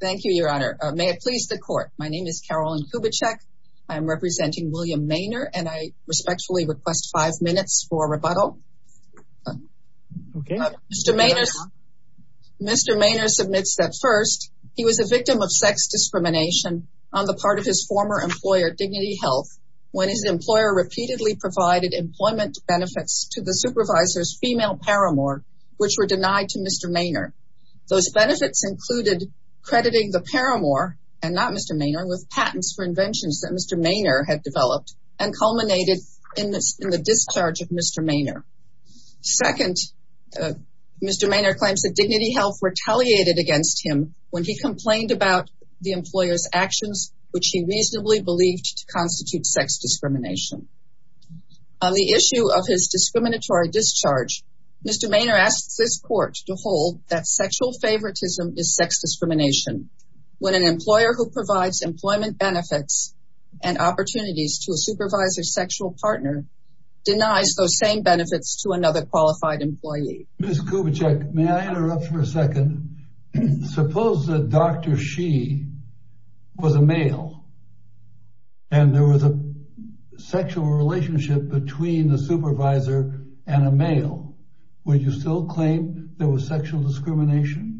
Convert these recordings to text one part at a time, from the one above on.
Thank you, your honor. May it please the court. My name is Carolyn Kubitschek. I am representing William Maner and I respectfully request five minutes for rebuttal. Okay. Mr. Maner submits that first, he was a victim of sex discrimination on the part of his former employer, Dignity Health, when his employer repeatedly provided employment benefits to the supervisor's female paramour, which were denied to Mr. Maner. Those benefits included crediting the paramour, and not Mr. Maner, with patents for inventions that Mr. Maner had developed and culminated in the discharge of Mr. Maner. Second, Mr. Maner claims that Dignity Health retaliated against him when he complained about the employer's actions, which he reasonably believed to constitute sex discrimination. On the issue of his discriminatory discharge, Mr. Maner asks this court to hold that sexual favoritism is sex discrimination when an employer who provides employment benefits and opportunities to a supervisor's sexual partner denies those same benefits to another qualified employee. Ms. Kubitschek, may I interrupt for a second? Suppose that Dr. She was a male and there was a sexual relationship between the supervisor and a male, would you still claim there was sexual discrimination?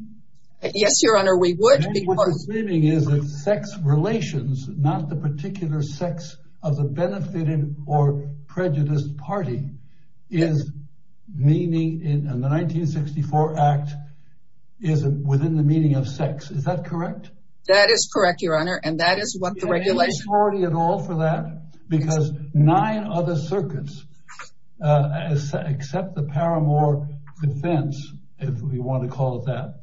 Yes, Your Honor, we would. And what you're claiming is that sex relations, not the particular sex of the benefited or prejudiced party, is meaning, in the 1964 Act, is within the meaning of sex. Is that correct? That is correct, Your Honor, and that is what the regulation… Because nine other circuits, except the Paramore Defense, if you want to call it that,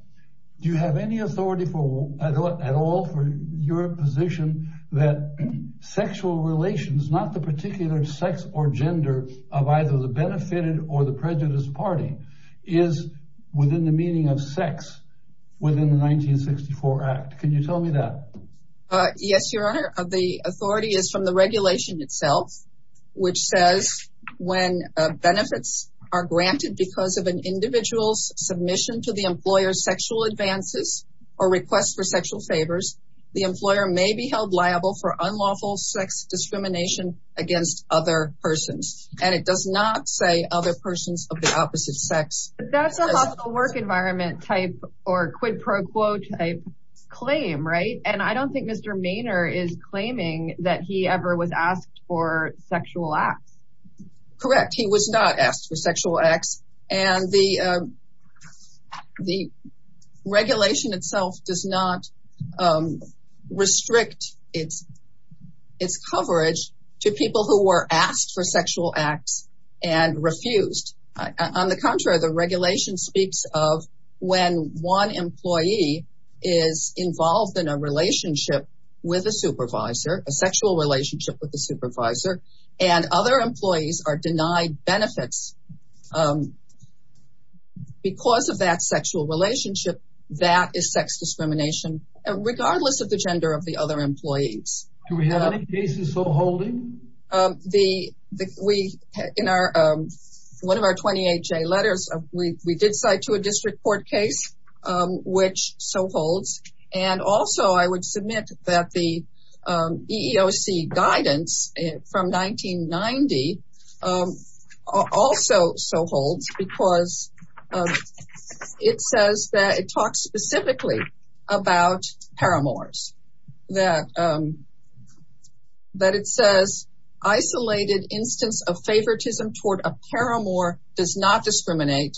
do you have any authority at all for your position that sexual relations, not the particular sex or gender of either the benefited or the prejudiced party, is within the meaning of sex within the 1964 Act? Can you tell me that? Yes, Your Honor, the authority is from the regulation itself, which says when benefits are granted because of an individual's submission to the employer's sexual advances or request for sexual favors, the employer may be held liable for unlawful sex discrimination against other persons. And it does not say other persons of the opposite sex. That's a hostile work environment type or quid pro quo type claim, right? And I don't think Mr. Maynard is claiming that he ever was asked for sexual acts. Correct, he was not asked for sexual acts, and the regulation itself does not restrict its coverage to people who were asked for sexual acts and refused. On the contrary, the regulation speaks of when one employee is involved in a relationship with a supervisor, a sexual relationship with a supervisor, and other employees are denied benefits because of that sexual relationship, that is sex discrimination, regardless of the gender of the other employees. Do we have any cases so holding? In one of our 28-J letters, we did cite to a district court case which so holds. And also, I would submit that the EEOC guidance from 1990 also so holds because it says that it talks specifically about paramours. That it says, isolated instance of favoritism toward a paramour does not discriminate,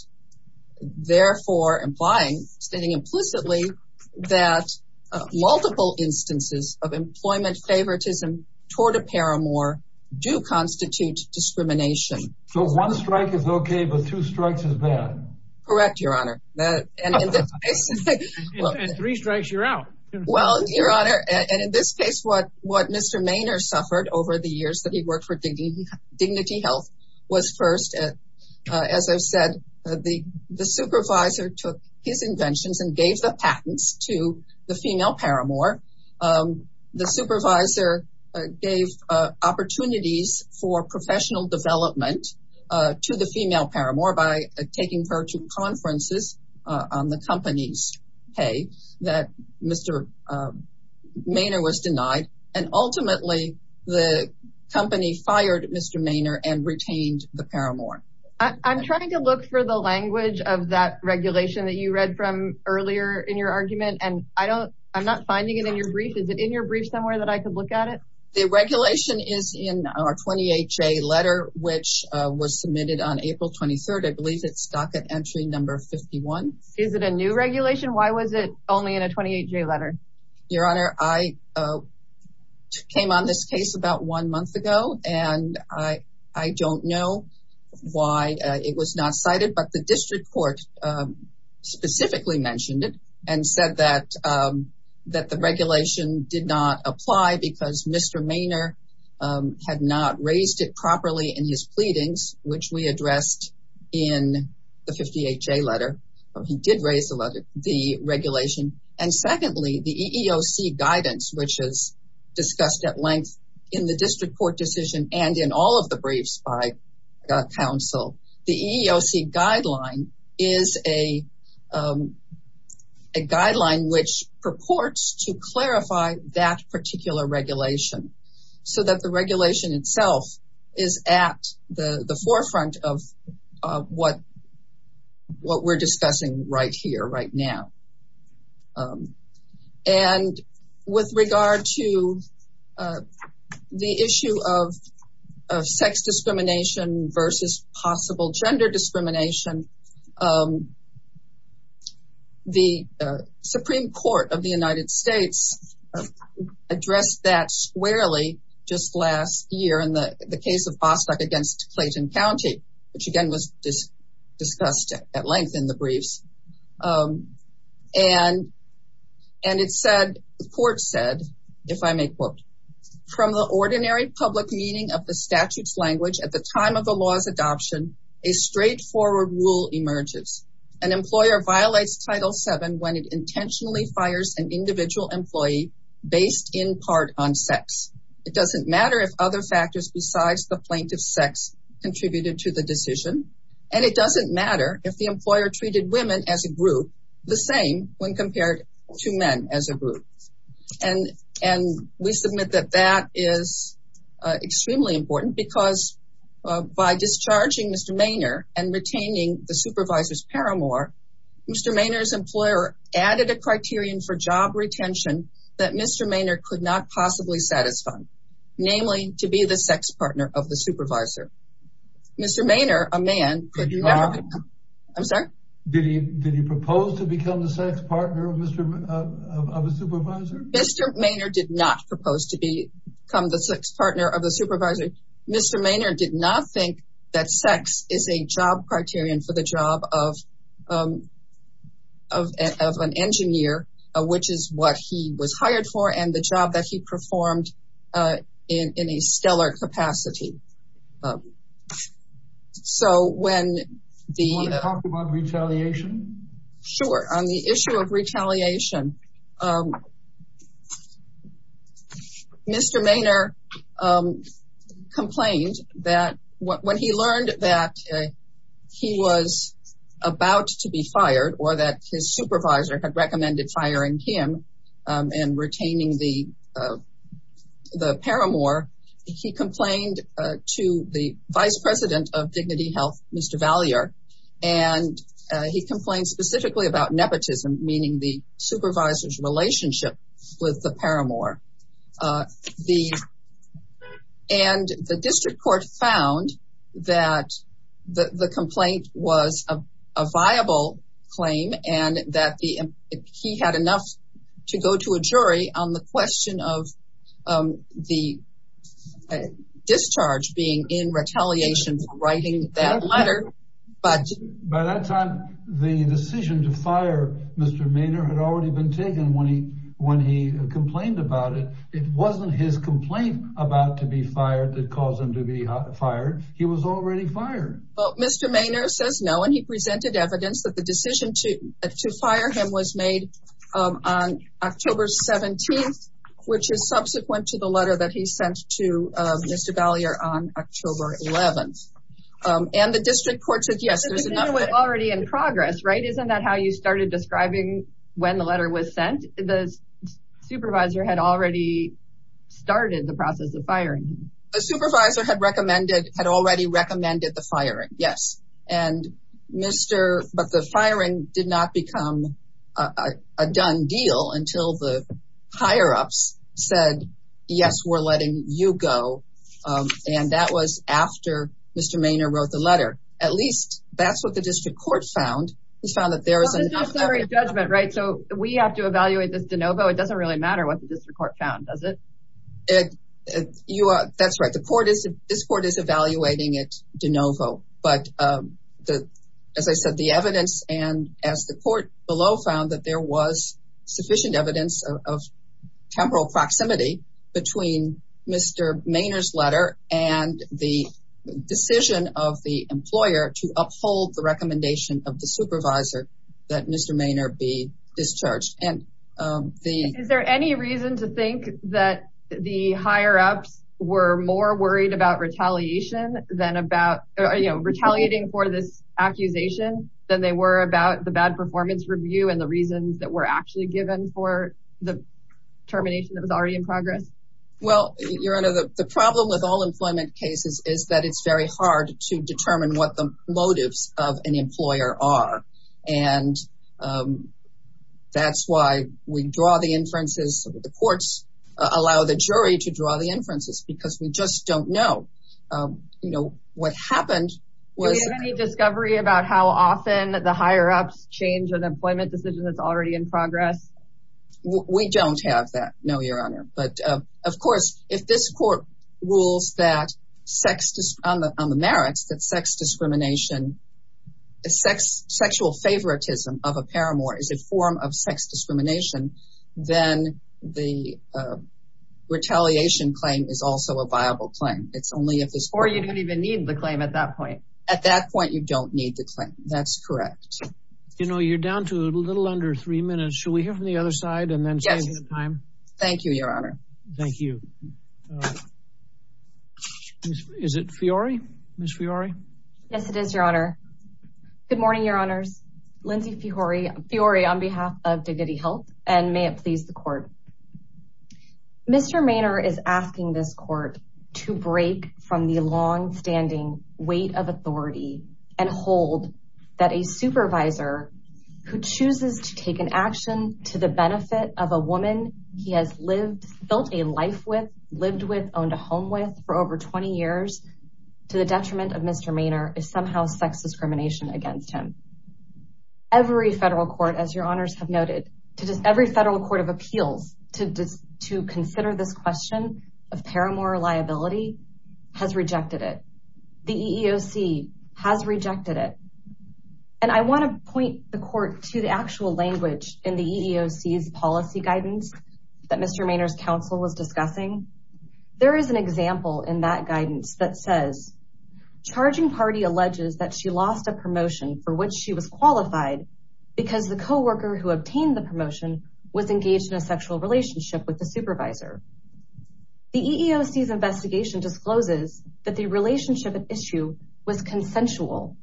therefore implying, stating implicitly, that multiple instances of employment favoritism toward a paramour do constitute discrimination. So one strike is okay, but two strikes is bad? Correct, Your Honor. And three strikes, you're out. Your Honor, and in this case, what Mr. Mainer suffered over the years that he worked for Dignity Health was first, as I've said, the supervisor took his inventions and gave the patents to the female paramour. The supervisor gave opportunities for professional development to the female paramour by taking her to conferences on the company's pay that Mr. Mainer was denied. And ultimately, the company fired Mr. Mainer and retained the paramour. I'm trying to look for the language of that regulation that you read from earlier in your argument, and I'm not finding it in your brief. Is it in your brief somewhere that I could look at it? The regulation is in our 28-J letter, which was submitted on April 23rd. I believe it's stock at entry number 51. Is it a new regulation? Why was it only in a 28-J letter? Your Honor, I came on this case about one month ago, and I don't know why it was not cited, but the district court specifically mentioned it and said that the regulation did not apply because Mr. Mainer had not raised it properly in his pleadings, which we addressed in the 58-J letter. He did raise the regulation. And secondly, the EEOC guidance, which is discussed at length in the district court decision and in all of the briefs by counsel, the EEOC guideline is a guideline which purports to clarify that particular regulation so that the regulation itself is at the forefront of what we're discussing. We're discussing right here, right now. And with regard to the issue of sex discrimination versus possible gender discrimination, the Supreme Court of the United States addressed that squarely just last year in the case of Bostock against Clayton County, which again was discussed at length in the briefs. And it said, the court said, if I may quote, From the ordinary public meaning of the statute's language at the time of the law's adoption, a straightforward rule emerges. An employer violates Title VII when it intentionally fires an individual employee based in part on sex. It doesn't matter if other factors besides the plaintiff's sex contributed to the decision, and it doesn't matter if the employer treated women as a group the same when compared to men as a group. And we submit that that is extremely important because by discharging Mr. Maynard and retaining the supervisor's paramour, Mr. Maynard's employer added a criterion for job retention that Mr. Maynard could not possibly satisfy, namely to be the sex partner of the supervisor. Mr. Maynard, a man, could not... I'm sorry? Did he propose to become the sex partner of a supervisor? Mr. Maynard did not propose to become the sex partner of the supervisor. Mr. Maynard did not think that sex is a job criterion for the job of an engineer, which is what he was hired for, and the job that he performed in a stellar capacity. So when the... Do you want to talk about retaliation? Sure. On the issue of retaliation, Mr. Maynard complained that when he learned that he was about to be fired or that his supervisor had recommended firing him and retaining the paramour, he complained to the vice president of Dignity Health, Mr. Vallier, and he complained specifically about nepotism, meaning the supervisor's relationship with the paramour. And the district court found that the complaint was a viable claim and that he had enough to go to a jury on the question of the discharge being in retaliation for writing that letter, but... It wasn't his complaint about to be fired that caused him to be fired. He was already fired. Well, Mr. Maynard says no, and he presented evidence that the decision to fire him was made on October 17th, which is subsequent to the letter that he sent to Mr. Vallier on October 11th. And the district court said yes, there's enough... Isn't that how you started describing when the letter was sent? The supervisor had already started the process of firing him. A supervisor had already recommended the firing, yes. But the firing did not become a done deal until the higher-ups said, yes, we're letting you go. And that was after Mr. Maynard wrote the letter. At least that's what the district court found. This is a summary judgment, right? So we have to evaluate this de novo? It doesn't really matter what the district court found, does it? That's right. This court is evaluating it de novo. But as I said, the evidence and as the court below found that there was sufficient evidence of temporal proximity between Mr. Maynard's letter and the decision of the employer to uphold the recommendation of the supervisor that Mr. Maynard be discharged. Is there any reason to think that the higher-ups were more worried about retaliating for this accusation than they were about the bad performance review and the reasons that were actually given for the termination that was already in progress? Well, Your Honor, the problem with all employment cases is that it's very hard to determine what the motives of an employer are. And that's why we draw the inferences, the courts allow the jury to draw the inferences because we just don't know. What happened was... Any discovery about how often the higher-ups change an employment decision that's already in progress? We don't have that, no, Your Honor. But of course, if this court rules on the merits that sexual favoritism of a paramour is a form of sex discrimination, then the retaliation claim is also a viable claim. Or you don't even need the claim at that point. At that point, you don't need the claim. That's correct. You know, you're down to a little under three minutes. Should we hear from the other side and then change the time? Thank you, Your Honor. Thank you. Is it Fiori? Ms. Fiori? Yes, it is, Your Honor. Good morning, Your Honors. Lindsay Fiori on behalf of Dignity Health and may it please the court. Mr. Maynard is asking this court to break from the longstanding weight of authority and hold that a supervisor who chooses to take an action to the benefit of a woman he has lived, felt a life with, lived with, owned a home with for over 20 years to the detriment of Mr. Maynard is somehow sex discrimination against him. Every federal court, as Your Honors have noted, every federal court of appeals to consider this question of paramour liability has rejected it. The EEOC has rejected it. And I want to point the court to the actual language in the EEOC's policy guidance that Mr. Maynard's counsel was discussing. There is an example in that guidance that says, Charging party alleges that she lost a promotion for which she was qualified because the coworker who obtained the promotion was engaged in a sexual relationship with the supervisor. The EEOC's investigation discloses that the relationship at issue was consensual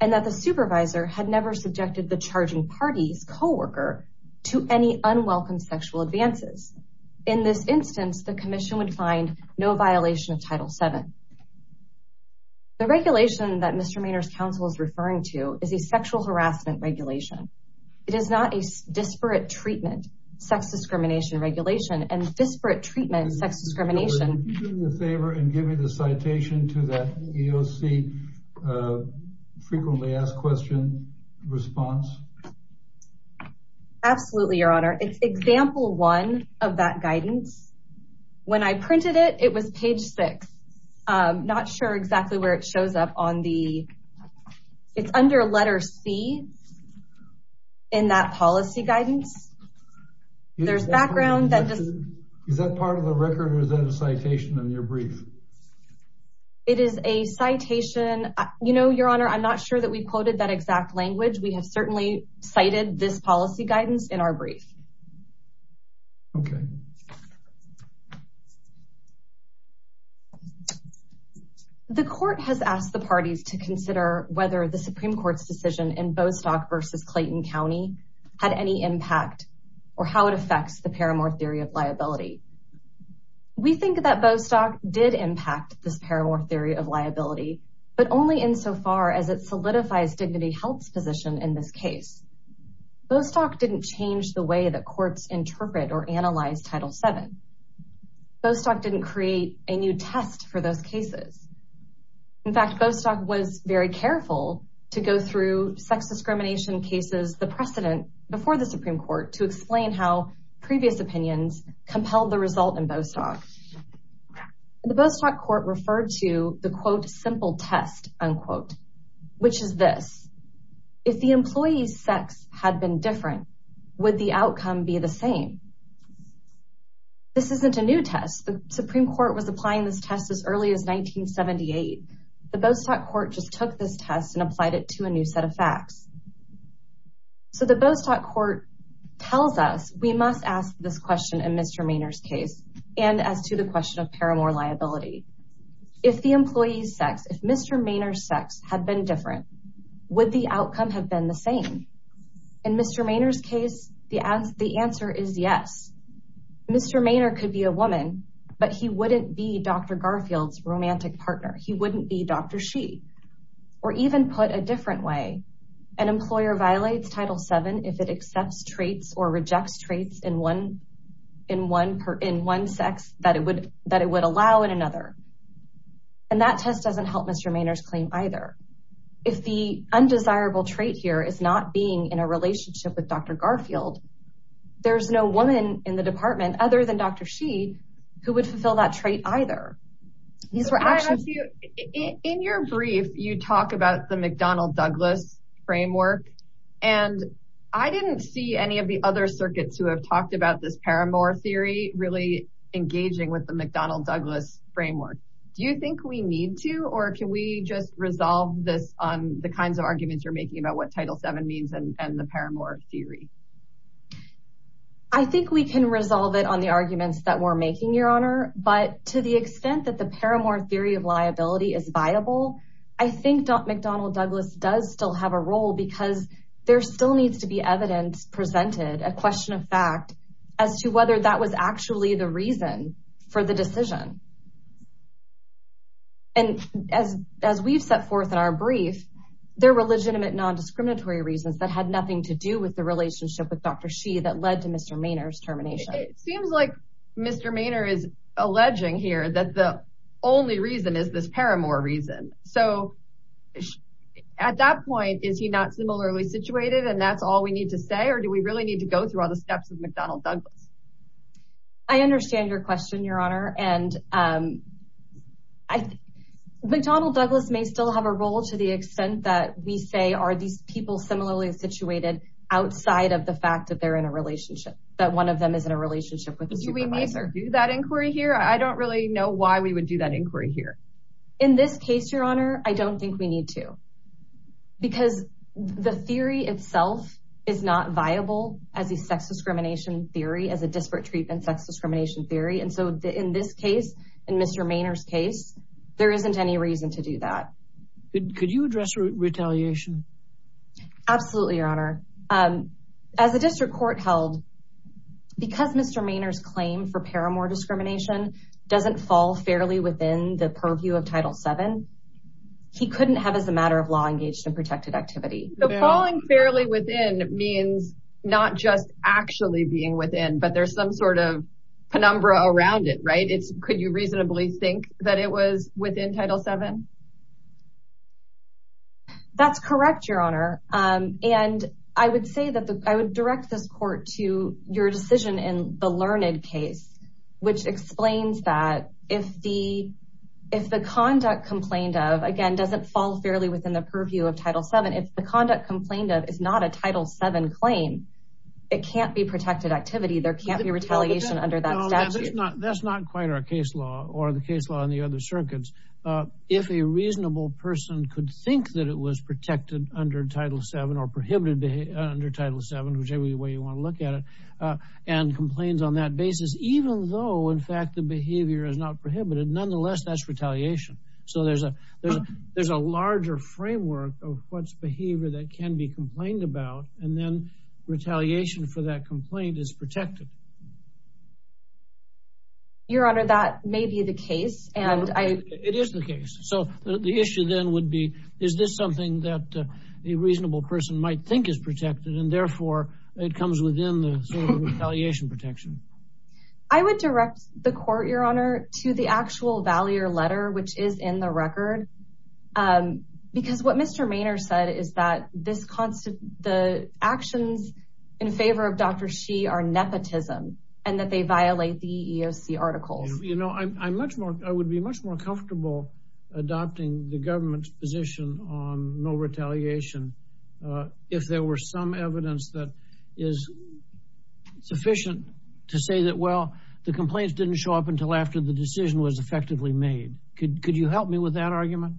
and that the supervisor had never subjected the charging party's coworker to any unwelcome sexual advances. In this instance, the commission would find no violation of Title VII. The regulation that Mr. Maynard's counsel is referring to is a sexual harassment regulation. It is not a disparate treatment sex discrimination regulation and disparate treatment sex discrimination. Would you do me a favor and give me the citation to that EEOC frequently asked question response? Absolutely, Your Honor. It's example one of that guidance. When I printed it, it was page six. I'm not sure exactly where it shows up on the... It's under letter C in that policy guidance. There's background that just... Is that part of the record or is that a citation in your brief? It is a citation. You know, Your Honor, I'm not sure that we quoted that exact language. We have certainly cited this policy guidance in our brief. Okay. The court has asked the parties to consider whether the Supreme Court's decision in Bostock versus Clayton County had any impact or how it affects the Paramore Theory of Liability. We think that Bostock did impact this Paramore Theory of Liability, but only insofar as it solidifies Dignity Health's position in this case. Bostock didn't change the way that courts interpret or analyze Title VII. Bostock didn't create a new test for those cases. In fact, Bostock was very careful to go through sex discrimination cases, the precedent before the Supreme Court, to explain how previous opinions compelled the result in Bostock. The Bostock Court referred to the, quote, simple test, unquote, which is this. If the employee's sex had been different, would the outcome be the same? This isn't a new test. The Supreme Court was applying this test as early as 1978. The Bostock Court just took this test and applied it to a new set of facts. So the Bostock Court tells us we must ask this question in Mr. Mainer's case and as to the question of Paramore Liability. If the employee's sex, if Mr. Mainer's sex had been different, would the outcome have been the same? In Mr. Mainer's case, the answer is yes. Mr. Mainer could be a woman, but he wouldn't be Dr. Garfield's romantic partner. Or even put a different way, an employer violates Title VII if it accepts traits or rejects traits in one sex that it would allow in another. And that test doesn't help Mr. Mainer's claim either. If the undesirable trait here is not being in a relationship with Dr. Garfield, there's no woman in the department other than Dr. Sheed who would fulfill that trait either. In your brief, you talk about the McDonnell-Douglas framework. And I didn't see any of the other circuits who have talked about this Paramore theory really engaging with the McDonnell-Douglas framework. Do you think we need to or can we just resolve this on the kinds of arguments you're making about what Title VII means and the Paramore theory? I think we can resolve it on the arguments that we're making, Your Honor. But to the extent that the Paramore theory of liability is viable, I think McDonnell-Douglas does still have a role because there still needs to be evidence presented, a question of fact, as to whether that was actually the reason for the decision. And as we've set forth in our brief, there were legitimate non-discriminatory reasons that had nothing to do with the relationship with Dr. Sheed that led to Mr. Mainer's termination. It seems like Mr. Mainer is alleging here that the only reason is this Paramore reason. So at that point, is he not similarly situated and that's all we need to say or do we really need to go through all the steps of McDonnell-Douglas? I understand your question, Your Honor, and McDonnell-Douglas may still have a role to the extent that we say are these people similarly situated outside of the fact that they're in a relationship, that one of them is in a relationship with the supervisor. Do we need to do that inquiry here? I don't really know why we would do that inquiry here. In this case, Your Honor, I don't think we need to because the theory itself is not viable as a sex discrimination theory, as a disparate treatment sex discrimination theory. And so in this case, in Mr. Mainer's case, there isn't any reason to do that. Could you address retaliation? Absolutely, Your Honor. As the district court held, because Mr. Mainer's claim for Paramore discrimination doesn't fall fairly within the purview of Title VII, he couldn't have as a matter of law engaged in protected activity. So falling fairly within means not just actually being within, but there's some sort of penumbra around it, right? Could you reasonably think that it was within Title VII? That's correct, Your Honor. And I would say that I would direct this court to your decision in the Learned case, which explains that if the conduct complained of, again, doesn't fall fairly within the purview of Title VII. If the conduct complained of is not a Title VII claim, it can't be protected activity. There can't be retaliation under that statute. That's not quite our case law or the case law in the other circuits. If a reasonable person could think that it was protected under Title VII or prohibited under Title VII, whichever way you want to look at it, and complains on that basis, even though, in fact, the behavior is not prohibited, nonetheless, that's retaliation. So there's a larger framework of what's behavior that can be complained about, and then retaliation for that complaint is protected. Your Honor, that may be the case. It is the case. So the issue then would be, is this something that a reasonable person might think is protected, and therefore, it comes within the retaliation protection? I would direct the court, Your Honor, to the actual Valier letter, which is in the record. Because what Mr. Maynard said is that the actions in favor of Dr. Shih are nepotism and that they violate the EEOC articles. You know, I would be much more comfortable adopting the government's position on no retaliation if there were some evidence that is sufficient to say that, well, the complaints didn't show up until after the decision was effectively made. Could you help me with that argument?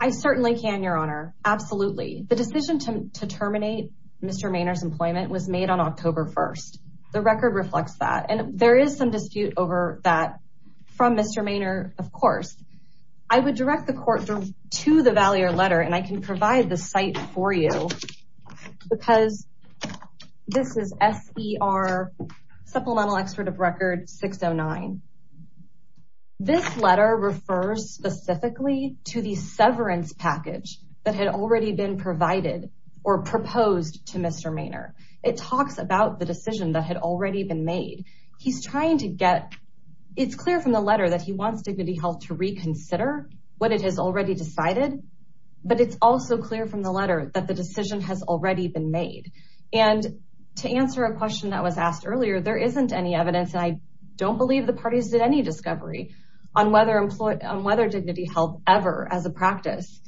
I certainly can, Your Honor. Absolutely. The decision to terminate Mr. Maynard's employment was made on October 1st. The record reflects that, and there is some dispute over that from Mr. Maynard, of course. I would direct the court to the Valier letter, and I can provide the site for you because this is SER Supplemental Expert of Record 609. This letter refers specifically to the severance package that had already been provided or proposed to Mr. Maynard. It talks about the decision that had already been made. It's clear from the letter that he wants Dignity Health to reconsider what it has already decided, but it's also clear from the letter that the decision has already been made. To answer a question that was asked earlier, there isn't any evidence, and I don't believe the parties did any discovery, on whether Dignity Health ever, as a practice,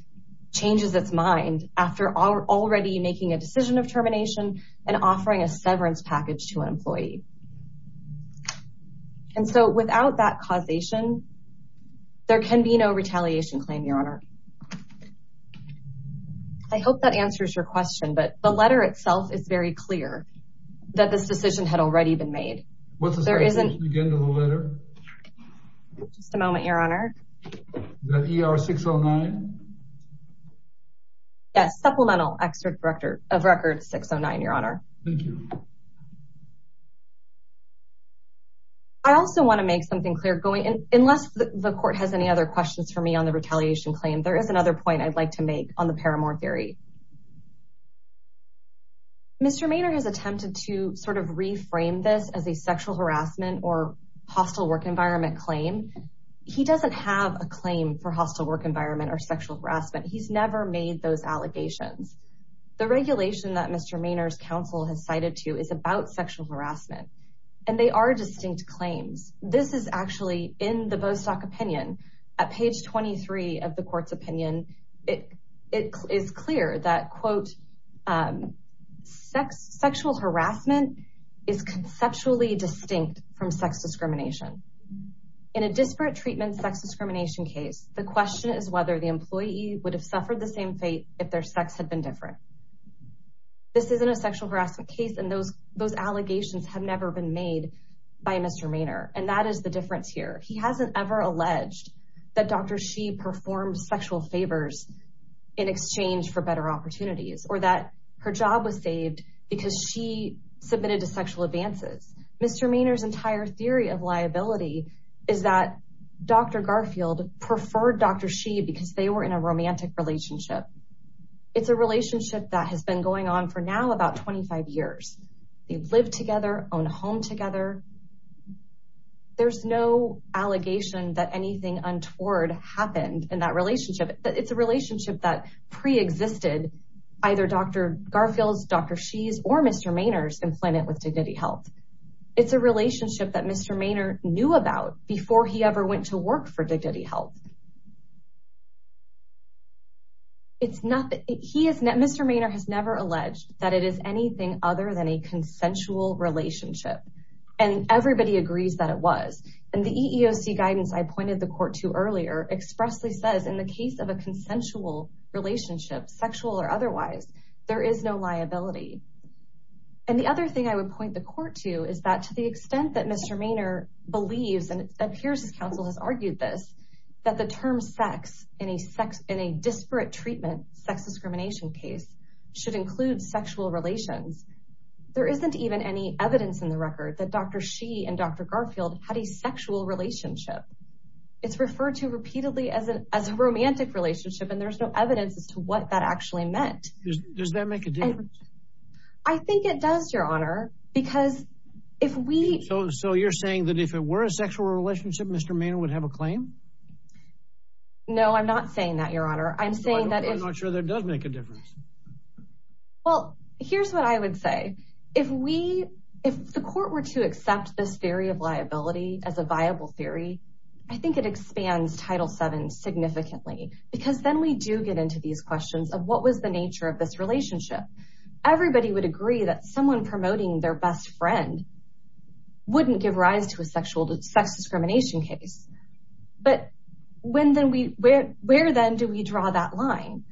changes its mind after already making a decision of termination and offering a severance package to an employee. Without that causation, there can be no retaliation claim, Your Honor. I hope that answers your question, but the letter itself is very clear that this decision had already been made. What's the situation again in the letter? Just a moment, Your Honor. The ER 609? Yes, Supplemental Expert of Record 609, Your Honor. Thank you. I also want to make something clear. Unless the court has any other questions for me on the retaliation claim, there is another point I'd like to make on the Paramore theory. Mr. Maynard has attempted to sort of reframe this as a sexual harassment or hostile work environment claim. He doesn't have a claim for hostile work environment or sexual harassment. He's never made those allegations. The regulation that Mr. Maynard's counsel has cited to you is about sexual harassment, and they are distinct claims. This is actually in the Bostock opinion. At page 23 of the court's opinion, it is clear that, quote, sexual harassment is conceptually distinct from sex discrimination. In a disparate treatment sex discrimination case, the question is whether the employee would have suffered the same fate if their sex had been different. This isn't a sexual harassment case, and those allegations have never been made by Mr. Maynard, and that is the difference here. He hasn't ever alleged that Dr. Shi performed sexual favors in exchange for better opportunities or that her job was saved because she submitted to sexual advances. Mr. Maynard's entire theory of liability is that Dr. Garfield preferred Dr. Shi because they were in a romantic relationship. It's a relationship that has been going on for now about 25 years. They've lived together, own a home together. There's no allegation that anything untoward happened in that relationship. It's a relationship that preexisted either Dr. Garfield's, Dr. Shi's, or Mr. Maynard's employment with Dignity Health. It's a relationship that Mr. Maynard knew about before he ever went to work for Dignity Health. Mr. Maynard has never alleged that it is anything other than a consensual relationship, and everybody agrees that it was. And the EEOC guidance I pointed the court to earlier expressly says in the case of a consensual relationship, sexual or otherwise, there is no liability. And the other thing I would point the court to is that to the extent that Mr. Maynard believes, and it appears his counsel has argued this, that the term sex in a disparate treatment sex discrimination case should include sexual relations. There isn't even any evidence in the record that Dr. Shi and Dr. Garfield had a sexual relationship. It's referred to repeatedly as a romantic relationship, and there's no evidence as to what that actually meant. Does that make a difference? I think it does, Your Honor, because if we... So you're saying that if it were a sexual relationship, Mr. Maynard would have a claim? No, I'm not saying that, Your Honor. I'm saying that if... I'm not sure that does make a difference. Well, here's what I would say. If we, if the court were to accept this theory of liability as a viable theory, I think it expands Title VII significantly. Because then we do get into these questions of what was the nature of this relationship. Everybody would agree that someone promoting their best friend wouldn't give rise to a sexual sex discrimination case. But where then do we draw that line?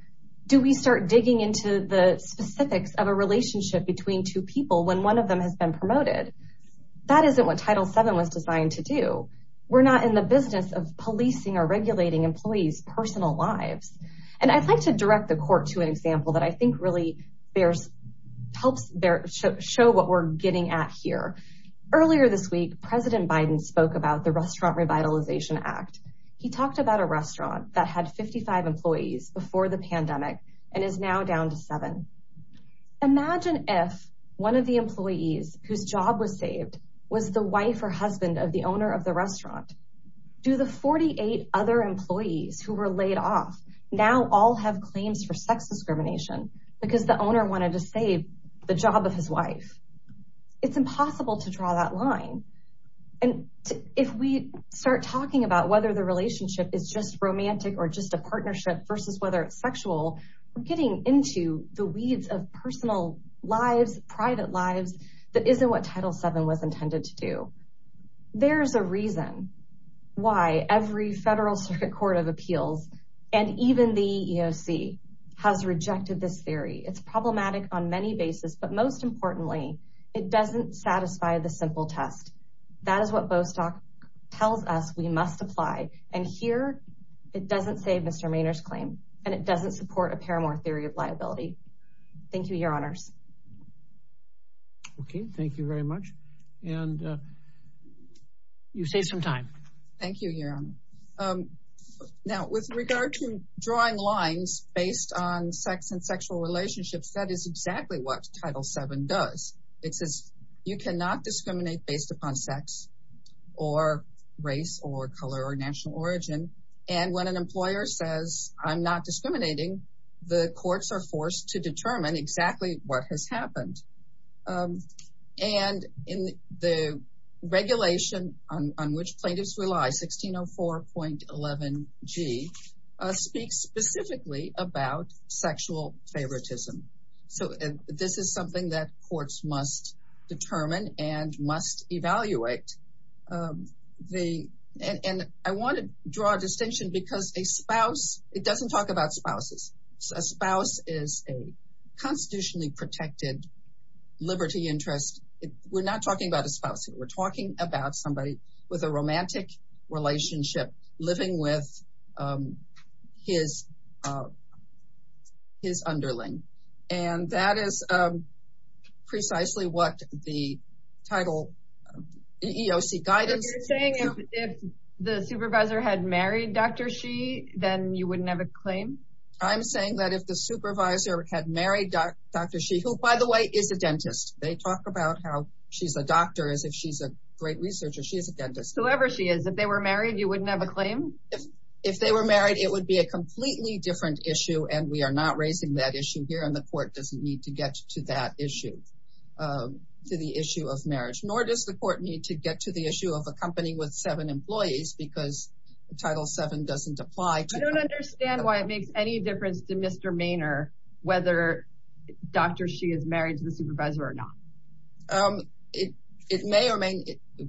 Do we start digging into the specifics of a relationship between two people when one of them has been promoted? That isn't what Title VII was designed to do. We're not in the business of policing or regulating employees' personal lives. And I'd like to direct the court to an example that I think really helps show what we're getting at here. Earlier this week, President Biden spoke about the Restaurant Revitalization Act. He talked about a restaurant that had 55 employees before the pandemic and is now down to seven. Imagine if one of the employees whose job was saved was the wife or husband of the owner of the restaurant. Do the 48 other employees who were laid off now all have claims for sex discrimination because the owner wanted to save the job of his wife? It's impossible to draw that line. And if we start talking about whether the relationship is just romantic or just a partnership versus whether it's sexual, we're getting into the weeds of personal lives, private lives that isn't what Title VII was intended to do. There's a reason why every federal circuit court of appeals and even the EEOC has rejected this theory. It's problematic on many bases, but most importantly, it doesn't satisfy the simple test. That is what Bostock tells us we must apply. And here, it doesn't save Mr. Maynard's claim, and it doesn't support a paramore theory of liability. Thank you, Your Honors. Okay, thank you very much. And you saved some time. Thank you, Your Honor. Now, with regard to drawing lines based on sex and sexual relationships, that is exactly what Title VII does. It says you cannot discriminate based upon sex or race or color or national origin. And when an employer says, I'm not discriminating, the courts are forced to determine exactly what has happened. And the regulation on which plaintiffs rely, 1604.11g, speaks specifically about sexual favoritism. So this is something that courts must determine and must evaluate. And I want to draw a distinction because a spouse, it doesn't talk about spouses. A spouse is a constitutionally protected liberty interest. We're not talking about a spouse here. We're talking about somebody with a romantic relationship living with his underling. And that is precisely what the title EEOC guidance— You're saying if the supervisor had married Dr. Xi, then you wouldn't have a claim? I'm saying that if the supervisor had married Dr. Xi, who, by the way, is a dentist. They talk about how she's a doctor as if she's a great researcher. She is a dentist. Whoever she is, if they were married, you wouldn't have a claim? If they were married, it would be a completely different issue. And we are not raising that issue here. And the court doesn't need to get to that issue, to the issue of marriage. Nor does the court need to get to the issue of a company with seven employees because Title VII doesn't apply. I don't understand why it makes any difference to Mr. Maynard whether Dr. Xi is married to the supervisor or not. It may or may not.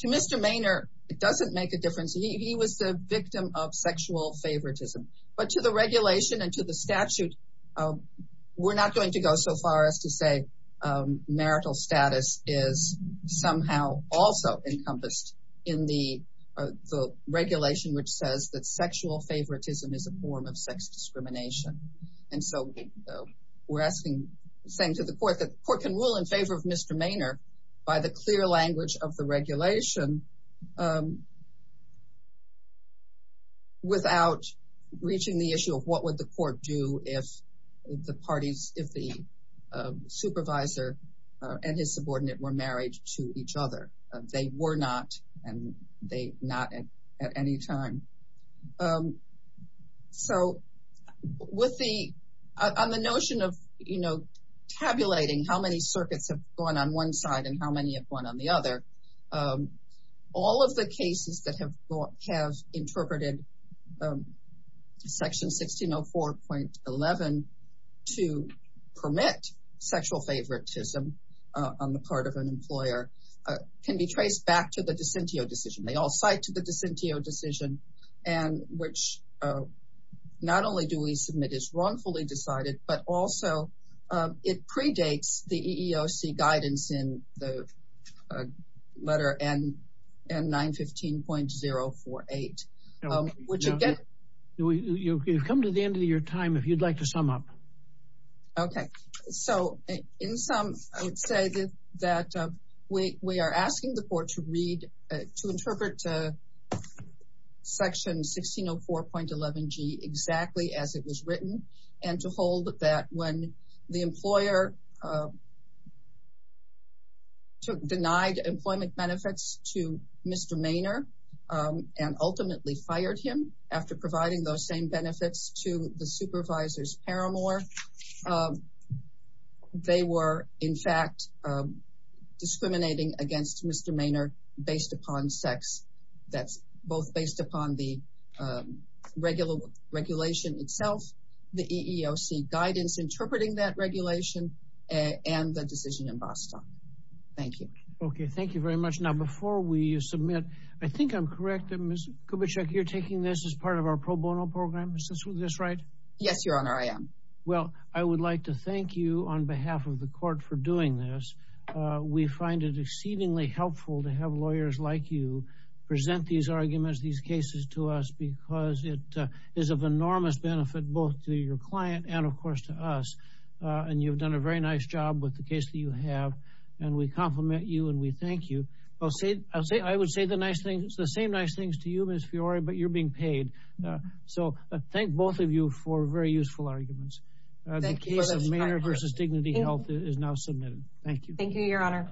To Mr. Maynard, it doesn't make a difference. He was the victim of sexual favoritism. But to the regulation and to the statute, we're not going to go so far as to say that marital status is somehow also encompassed in the regulation which says that sexual favoritism is a form of sex discrimination. And so we're saying to the court that the court can rule in favor of Mr. Maynard by the clear language of the regulation without reaching the issue of what would the court do if the parties, if the supervisor and his subordinate were married to each other. They were not, and they're not at any time. So on the notion of tabulating how many circuits have gone on one side and how many have gone on the other, all of the cases that have interpreted Section 1604.11 to permit sexual favoritism on the part of an employer can be traced back to the Dicentio decision. They all cite to the Dicentio decision and which not only do we submit is wrongfully decided, but also it predates the EEOC guidance in the letter N915.048. You've come to the end of your time if you'd like to sum up. Okay, so in sum, I would say that we are asking the court to read, to interpret Section 1604.11g exactly as it was written and to hold that when the employer denied employment benefits to Mr. Maynard and ultimately fired him after providing those same benefits to the supervisor's paramour. They were, in fact, discriminating against Mr. Maynard based upon sex. That's both based upon the regular regulation itself, the EEOC guidance interpreting that regulation, and the decision in Boston. Thank you. Okay, thank you very much. Now, before we submit, I think I'm correct that Ms. Kubitschek, you're taking this as part of our pro bono program. Is this right? Yes, Your Honor, I am. Well, I would like to thank you on behalf of the court for doing this. We find it exceedingly helpful to have lawyers like you present these arguments, these cases to us because it is of enormous benefit both to your client and, of course, to us. And you've done a very nice job with the case that you have, and we compliment you and we thank you. I would say the same nice things to you, Ms. Fiore, but you're being paid. So I thank both of you for very useful arguments. The case of Maynard v. Dignity Health is now submitted. Thank you. Thank you, Your Honor.